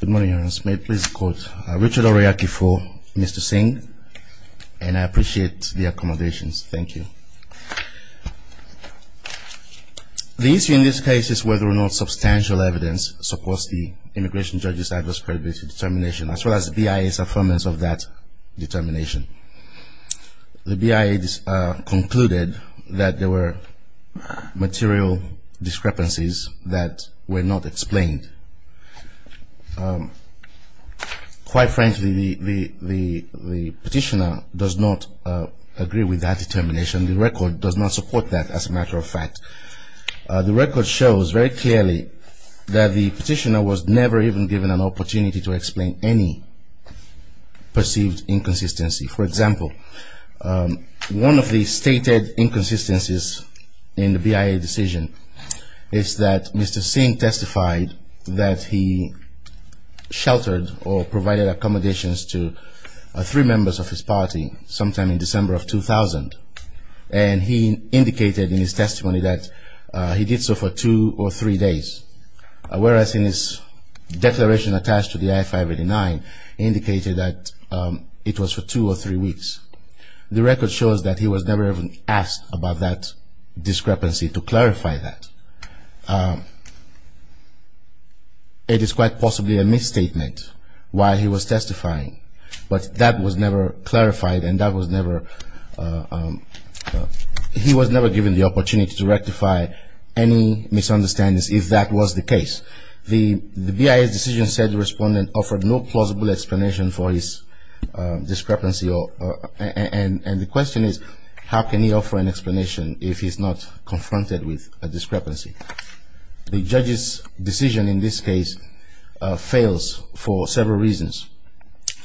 Good morning, Your Honor. May I please quote Richard Oryaki for Mr. Singh? And I appreciate the accommodations. Thank you. The issue in this case is whether or not substantial evidence supports the immigration judge's adverse credibility determination, as well as the BIA's affirmance of that determination. The BIA concluded that there were material discrepancies that were not explained. Quite frankly, the petitioner does not agree with that determination. The record does not support that, as a matter of fact. The record shows very clearly that the petitioner was never even given an opportunity to explain any perceived inconsistency. For example, one of the stated inconsistencies in the BIA decision is that Mr. Singh testified that he sheltered or provided accommodations to three members of his party sometime in December of 2000. And he indicated in his testimony that he did so for two or three days, whereas in his declaration attached to the I-589, he indicated that it was for two or three weeks. The record shows that he was never even asked about that discrepancy to clarify that. It is quite possibly a misstatement why he was testifying, but that was never clarified, and he was never given the opportunity to rectify any misunderstandings if that was the case. The BIA's decision said the respondent offered no plausible explanation for his discrepancy, and the question is how can he offer an explanation if he's not confronted with a discrepancy? The judge's decision in this case fails for several reasons.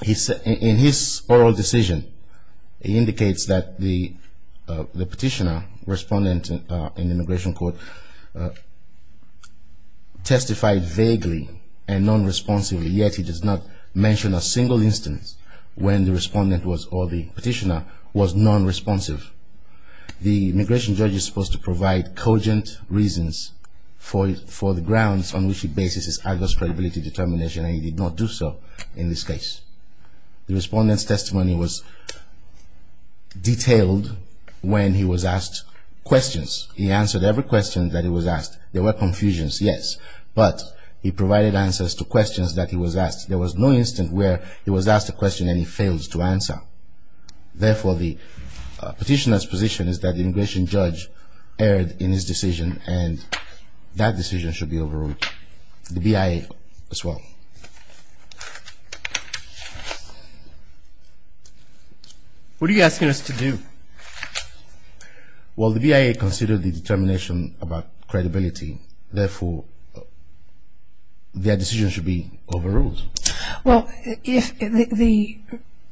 In his oral decision, he indicates that the petitioner, respondent in the immigration court, testified vaguely and non-responsively, yet he does not mention a single instance when the respondent or the petitioner was non-responsive. The immigration judge is supposed to provide cogent reasons for the grounds on which he bases his Agus credibility determination, and he did not do so in this case. The respondent's testimony was detailed when he was asked questions. He answered every question that he was asked. There were confusions, yes, but he provided answers to questions that he was asked. There was no instance where he was asked a question and he failed to answer. Therefore, the petitioner's position is that the immigration judge erred in his decision, and that decision should be overruled, the BIA as well. What are you asking us to do? Well, the BIA considered the determination about credibility. Therefore, their decision should be overruled. Well, if the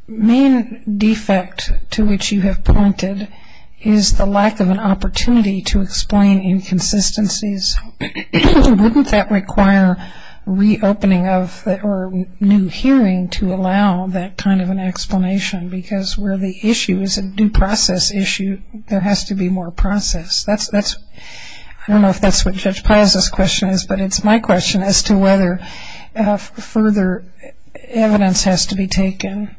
main defect to which you have pointed is the lack of an opportunity to explain inconsistencies, wouldn't that require reopening of or new hearing to allow that kind of an explanation? Because where the issue is a due process issue, there has to be more process. I don't know if that's what Judge Pius' question is, but it's my question as to whether further evidence has to be taken.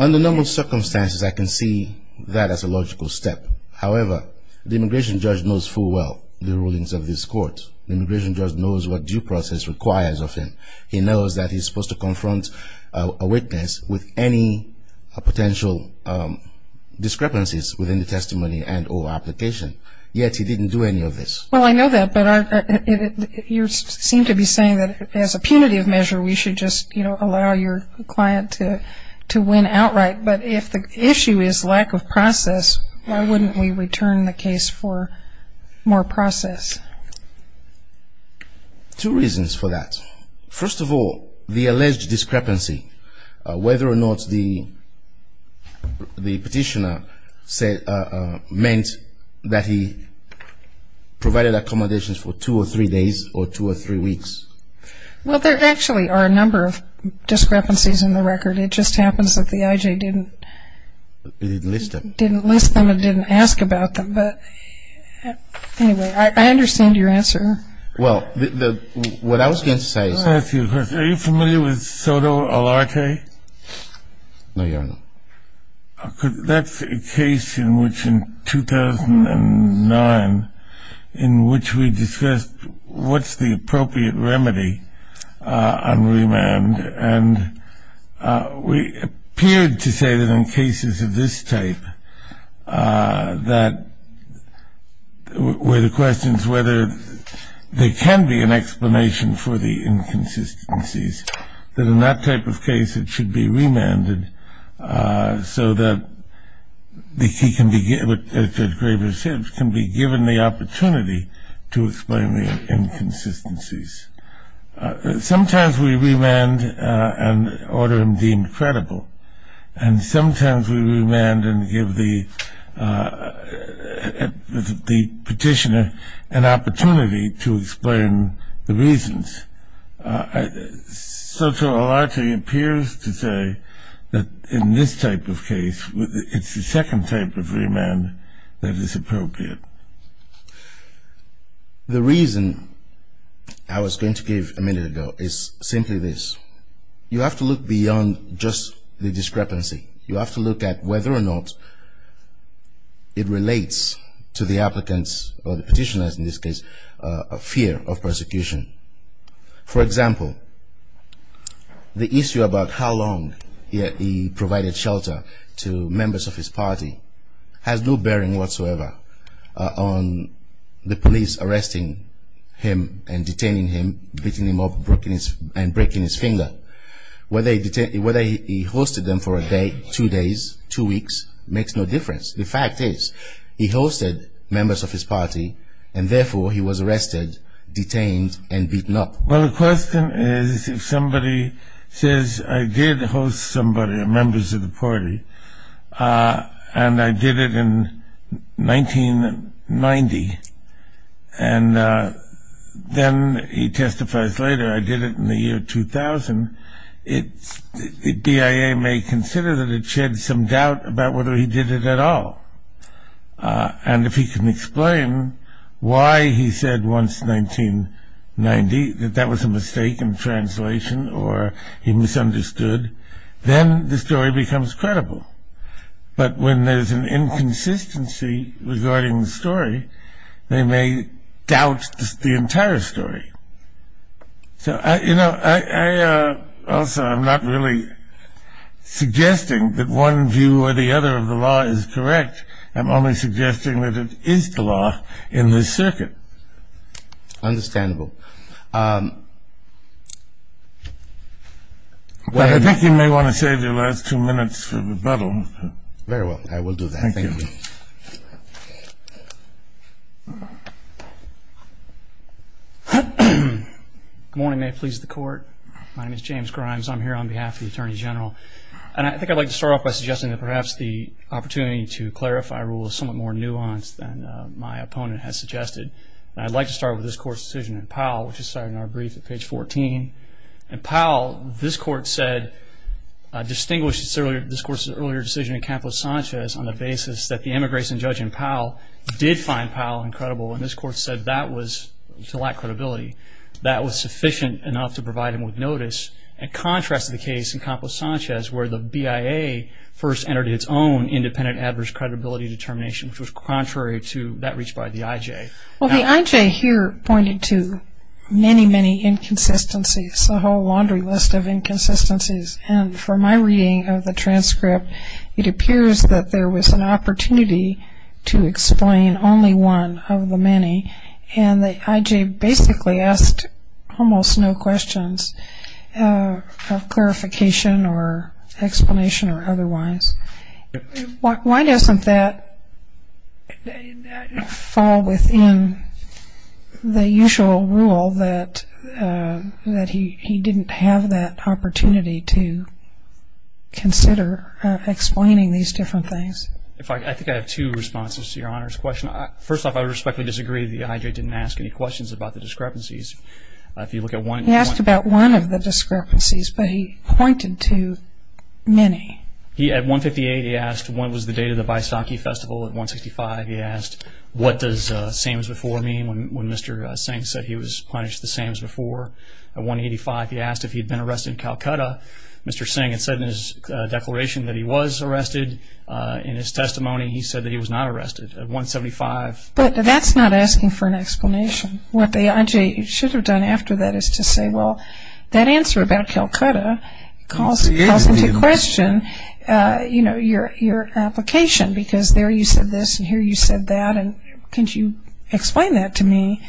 Under normal circumstances, I can see that as a logical step. However, the immigration judge knows full well the rulings of this court. The immigration judge knows what due process requires of him. He knows that he's supposed to confront a witness with any potential discrepancies within the testimony and or application, yet he didn't do any of this. Well, I know that, but you seem to be saying that as a punitive measure, we should just, you know, allow your client to win outright. But if the issue is lack of process, why wouldn't we return the case for more process? Two reasons for that. First of all, the alleged discrepancy, whether or not the petitioner said, meant that he provided accommodations for two or three days or two or three weeks. Well, there actually are a number of discrepancies in the record. It just happens that the I.J. didn't list them and didn't ask about them. But anyway, I understand your answer. Well, what I was going to say is... I have a few questions. Are you familiar with Soto Alarque? No, Your Honor. That's a case in which in 2009, in which we discussed what's the appropriate remedy on remand. And we appeared to say that in cases of this type, that were the questions whether there can be an explanation for the inconsistencies. That in that type of case, it should be remanded so that he can be given, as Gregor said, can be given the opportunity to explain the inconsistencies. Sometimes we remand and order him deemed credible. And sometimes we remand and give the petitioner an opportunity to explain the reasons. Soto Alarque appears to say that in this type of case, it's the second type of remand that is appropriate. The reason I was going to give a minute ago is simply this. You have to look beyond just the discrepancy. You have to look at whether or not it relates to the applicant's, or the petitioner's in this case, fear of persecution. For example, the issue about how long he provided shelter to members of his party has no bearing whatsoever on the police arresting him and detaining him, beating him up and breaking his finger. Whether he hosted them for a day, two days, two weeks, makes no difference. The fact is he hosted members of his party, and therefore he was arrested, detained, and beaten up. Well, the question is if somebody says, I did host somebody, members of the party, and I did it in 1990, and then he testifies later, I did it in the year 2000, the BIA may consider that it shed some doubt about whether he did it at all. And if he can explain why he said once in 1990 that that was a mistake in translation or he misunderstood, then the story becomes credible. But when there's an inconsistency regarding the story, they may doubt the entire story. So, you know, also I'm not really suggesting that one view or the other of the law is correct. I'm only suggesting that it is the law in this circuit. Understandable. Well, I think you may want to save your last two minutes for rebuttal. Very well. I will do that. Thank you. Good morning. May it please the Court. My name is James Grimes. I'm here on behalf of the Attorney General. And I think I'd like to start off by suggesting that perhaps the opportunity to clarify a rule is somewhat more nuanced than my opponent has suggested. And I'd like to start with this Court's decision in Powell, which is cited in our brief at page 14. In Powell, this Court said, distinguished this Court's earlier decision in Campos Sanchez on the basis that the immigration judge in Powell did find Powell incredible, and this Court said that was to lack credibility. That was sufficient enough to provide him with notice. In contrast to the case in Campos Sanchez, where the BIA first entered its own independent adverse credibility determination, which was contrary to that reached by the IJ. Well, the IJ here pointed to many, many inconsistencies, a whole laundry list of inconsistencies. And from my reading of the transcript, it appears that there was an opportunity to explain only one of the many. And the IJ basically asked almost no questions of clarification or explanation or otherwise. Why doesn't that fall within the usual rule that he didn't have that opportunity to consider explaining these different things? I think I have two responses to Your Honor's question. First off, I respectfully disagree that the IJ didn't ask any questions about the discrepancies. He asked about one of the discrepancies, but he pointed to many. At 158, he asked what was the date of the Vaisakhi Festival. At 165, he asked what does same as before mean when Mr. Singh said he was punished the same as before. At 185, he asked if he had been arrested in Calcutta. Mr. Singh had said in his declaration that he was arrested. In his testimony, he said that he was not arrested. At 175- But that's not asking for an explanation. What the IJ should have done after that is to say, well, that answer about Calcutta calls into question, you know, your application because there you said this and here you said that, and can't you explain that to me?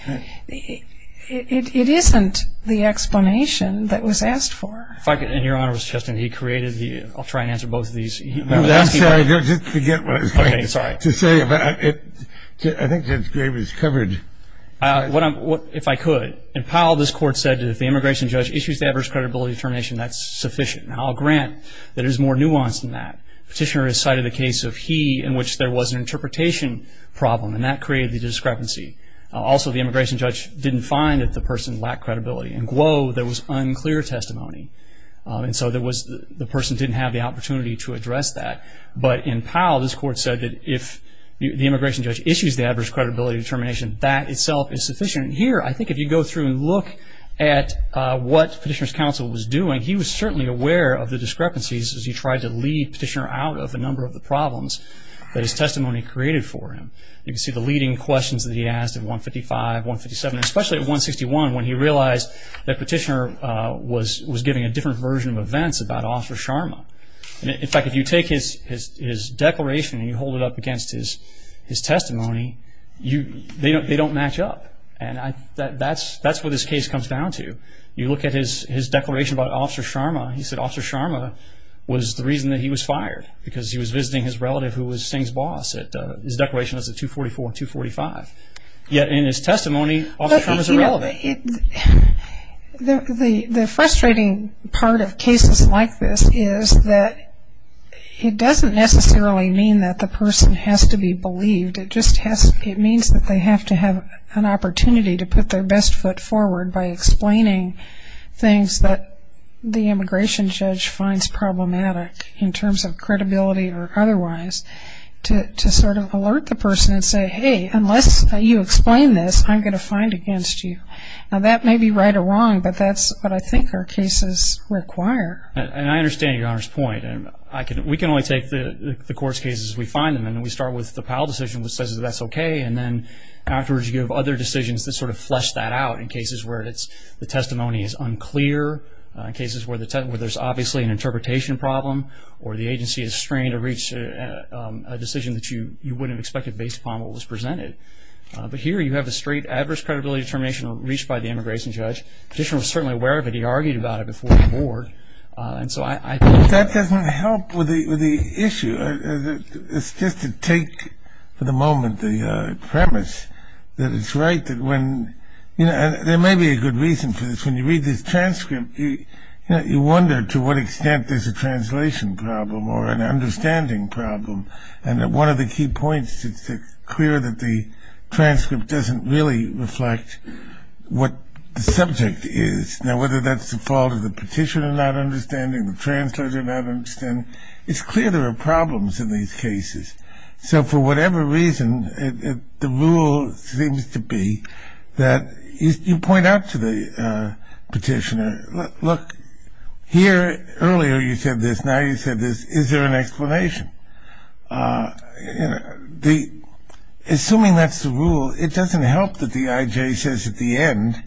It isn't the explanation that was asked for. If I could, and Your Honor, Mr. Cheston, he created the-I'll try and answer both of these. I'm sorry. Just forget what I was going to say. I think Judge Graves covered- If I could. In Powell, this Court said that if the immigration judge issues the adverse credibility determination, that's sufficient. Now, I'll grant that it is more nuanced than that. Petitioner has cited the case of He in which there was an interpretation problem, and that created the discrepancy. Also, the immigration judge didn't find that the person lacked credibility. In Guo, there was unclear testimony, and so the person didn't have the opportunity to address that. But in Powell, this Court said that if the immigration judge issues the adverse credibility determination, that itself is sufficient. Here, I think if you go through and look at what Petitioner's counsel was doing, he was certainly aware of the discrepancies as he tried to lead Petitioner out of the number of the problems that his testimony created for him. You can see the leading questions that he asked in 155, 157, and especially at 161 when he realized that Petitioner was giving a different version of events about Officer Sharma. In fact, if you take his declaration and you hold it up against his testimony, they don't match up. That's what this case comes down to. You look at his declaration about Officer Sharma, he said Officer Sharma was the reason that he was fired, because he was visiting his relative who was Singh's boss. His declaration was at 244 and 245. Yet in his testimony, Officer Sharma is irrelevant. The frustrating part of cases like this is that it doesn't necessarily mean that the person has to be believed. It just means that they have to have an opportunity to put their best foot forward by explaining things that the immigration judge finds problematic in terms of credibility or otherwise, to sort of alert the person and say, hey, unless you explain this, I'm going to find against you. Now, that may be right or wrong, but that's what I think our cases require. And I understand Your Honor's point. We can only take the court's cases as we find them, and we start with the Powell decision that says that's okay, and then afterwards you have other decisions that sort of flesh that out in cases where the testimony is unclear, in cases where there's obviously an interpretation problem, or the agency is strained to reach a decision that you wouldn't have expected based upon what was presented. But here you have a straight adverse credibility determination reached by the immigration judge. The petitioner was certainly aware of it. He argued about it before the board. But that doesn't help with the issue. It's just to take for the moment the premise that it's right that when, and there may be a good reason for this, when you read this transcript, you wonder to what extent there's a translation problem or an understanding problem. And one of the key points is it's clear that the transcript doesn't really reflect what the subject is. Now, whether that's the fault of the petitioner not understanding, the translator not understanding, it's clear there are problems in these cases. So for whatever reason, the rule seems to be that you point out to the petitioner, look, here earlier you said this, now you said this, is there an explanation? Assuming that's the rule, it doesn't help that the I.J. says at the end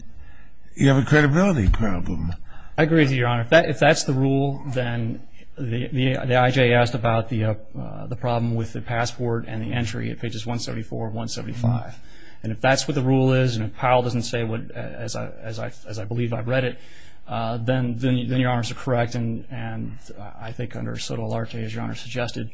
you have a credibility problem. I agree with you, Your Honor. If that's the rule, then the I.J. asked about the problem with the passport and the entry at pages 174 and 175. And if that's what the rule is and Powell doesn't say what, as I believe I've read it, then Your Honor is correct. And I think under Sotomayor, as Your Honor suggested,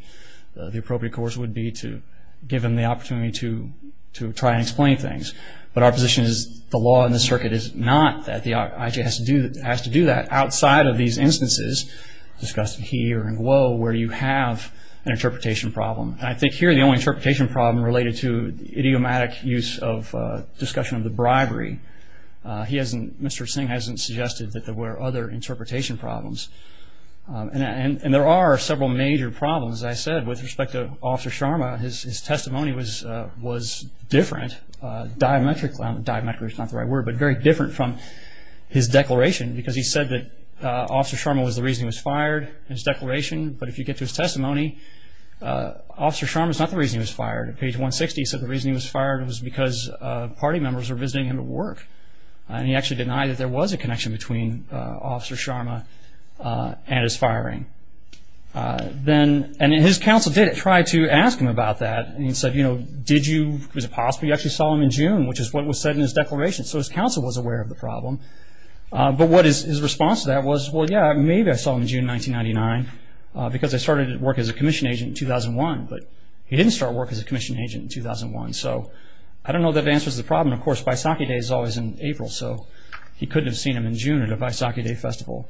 the appropriate course would be to give him the opportunity to try and explain things. But our position is the law in this circuit is not that. The I.J. has to do that outside of these instances discussed here in Guo where you have an interpretation problem. And I think here the only interpretation problem related to the idiomatic use of discussion of the bribery, he hasn't, Mr. Singh hasn't suggested that there were other interpretation problems. And there are several major problems. As I said, with respect to Officer Sharma, his testimony was different, diametrically, diametrically is not the right word, but very different from his declaration because he said that Officer Sharma was the reason he was fired in his declaration. But if you get to his testimony, Officer Sharma is not the reason he was fired. At page 160, he said the reason he was fired was because party members were visiting him at work. And he actually denied that there was a connection between Officer Sharma and his firing. And his counsel did try to ask him about that. And he said, you know, did you, was it possible you actually saw him in June, which is what was said in his declaration. So his counsel was aware of the problem. But what his response to that was, well, yeah, maybe I saw him in June 1999 because I started work as a commission agent in 2001. But he didn't start work as a commission agent in 2001. So I don't know if that answers the problem. Of course, Baisakhi Day is always in April, so he couldn't have seen him in June at a Baisakhi Day festival.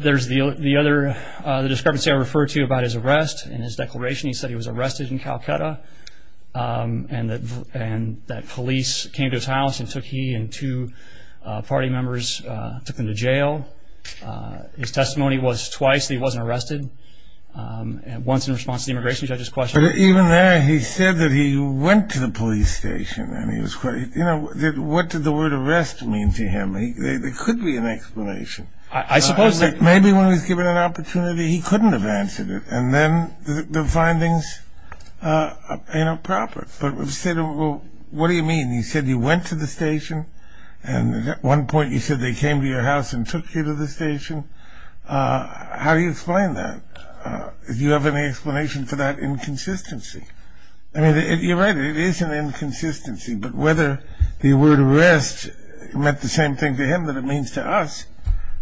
There's the other discrepancy I referred to about his arrest. In his declaration, he said he was arrested in Calcutta and that police came to his house and took he and two party members, took them to jail. His testimony was twice that he wasn't arrested. Once in response to the immigration judge's question. But even there, he said that he went to the police station and he was quite, you know, what did the word arrest mean to him? There could be an explanation. I suppose that. Maybe when he was given an opportunity, he couldn't have answered it. And then the findings, you know, proper. But what do you mean? He said he went to the station. And at one point he said they came to your house and took you to the station. How do you explain that? Do you have any explanation for that inconsistency? I mean, you're right. It is an inconsistency. But whether the word arrest meant the same thing to him that it means to us,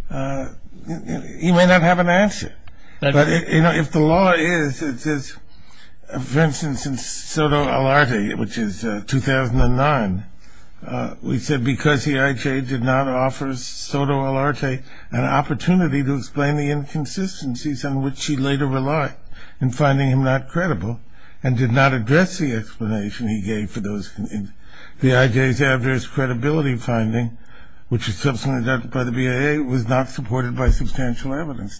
he may not have an answer. But, you know, if the law is, it says, for instance, in Soto Alarte, which is 2009, we said because the IJ did not offer Soto Alarte an opportunity to explain the inconsistencies on which he later relied in finding him not credible and did not address the explanation he gave for those. The IJ's adverse credibility finding, which is subsequently adopted by the BIA, was not supported by substantial evidence.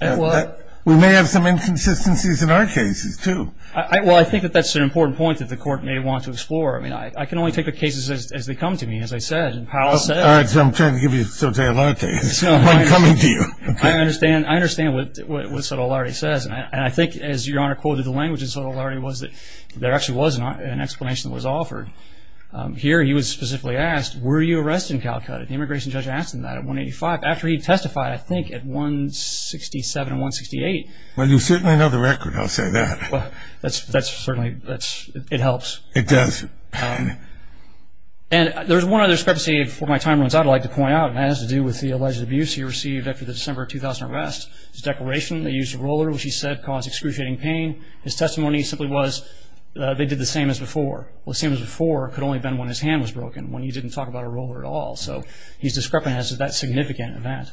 We may have some inconsistencies in our cases, too. Well, I think that that's an important point that the Court may want to explore. I mean, I can only take the cases as they come to me, as I said, and Powell said. All right, so I'm trying to give you Soto Alarte. I'm coming to you. I understand what Soto Alarte says. And I think, as Your Honor quoted the language in Soto Alarte, was that there actually was an explanation that was offered. Here he was specifically asked, were you arrested in Calcutta? The immigration judge asked him that at 185. After he testified, I think, at 167 and 168. Well, you certainly know the record. I'll say that. That's certainly, it helps. It does. And there's one other discrepancy, before my time runs out, I'd like to point out, and that has to do with the alleged abuse he received after the December 2000 arrest. His declaration, they used a roller, which he said caused excruciating pain. His testimony simply was they did the same as before. Well, the same as before could only have been when his hand was broken, when he didn't talk about a roller at all. So he's discrepant as to that significant event.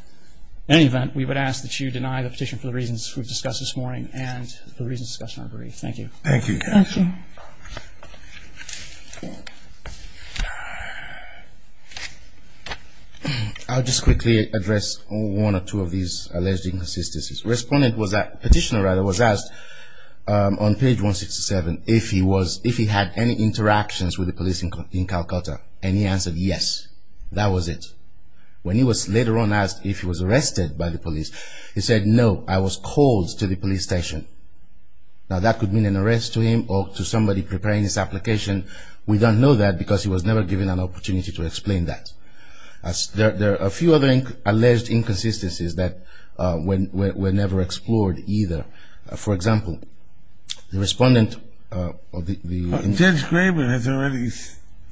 In any event, we would ask that you deny the petition for the reasons we've discussed this morning and for the reasons discussed in our brief. Thank you. Thank you. Thank you. I'll just quickly address one or two of these alleged inconsistencies. Respondent was at, petitioner rather, was asked on page 167 if he was, if he had any interactions with the police in Calcutta. And he answered yes. That was it. When he was later on asked if he was arrested by the police, he said no, I was called to the police station. Now, that could mean an arrest to him or to somebody preparing his application. We don't know that because he was never given an opportunity to explain that. There are a few other alleged inconsistencies that were never explored either. For example, the respondent of the Judge Graber has already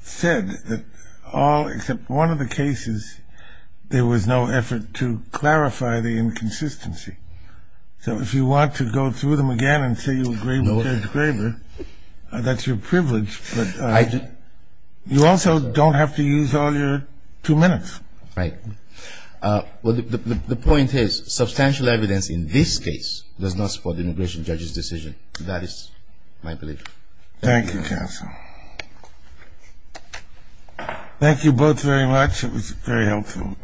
said that all except one of the cases, there was no effort to clarify the inconsistency. So if you want to go through them again and say you agree with Judge Graber, that's your privilege, but you also don't have to use all your two minutes. Right. The point is, substantial evidence in this case does not support the immigration judge's decision. That is my belief. Thank you, counsel. Thank you both very much. It was very helpful.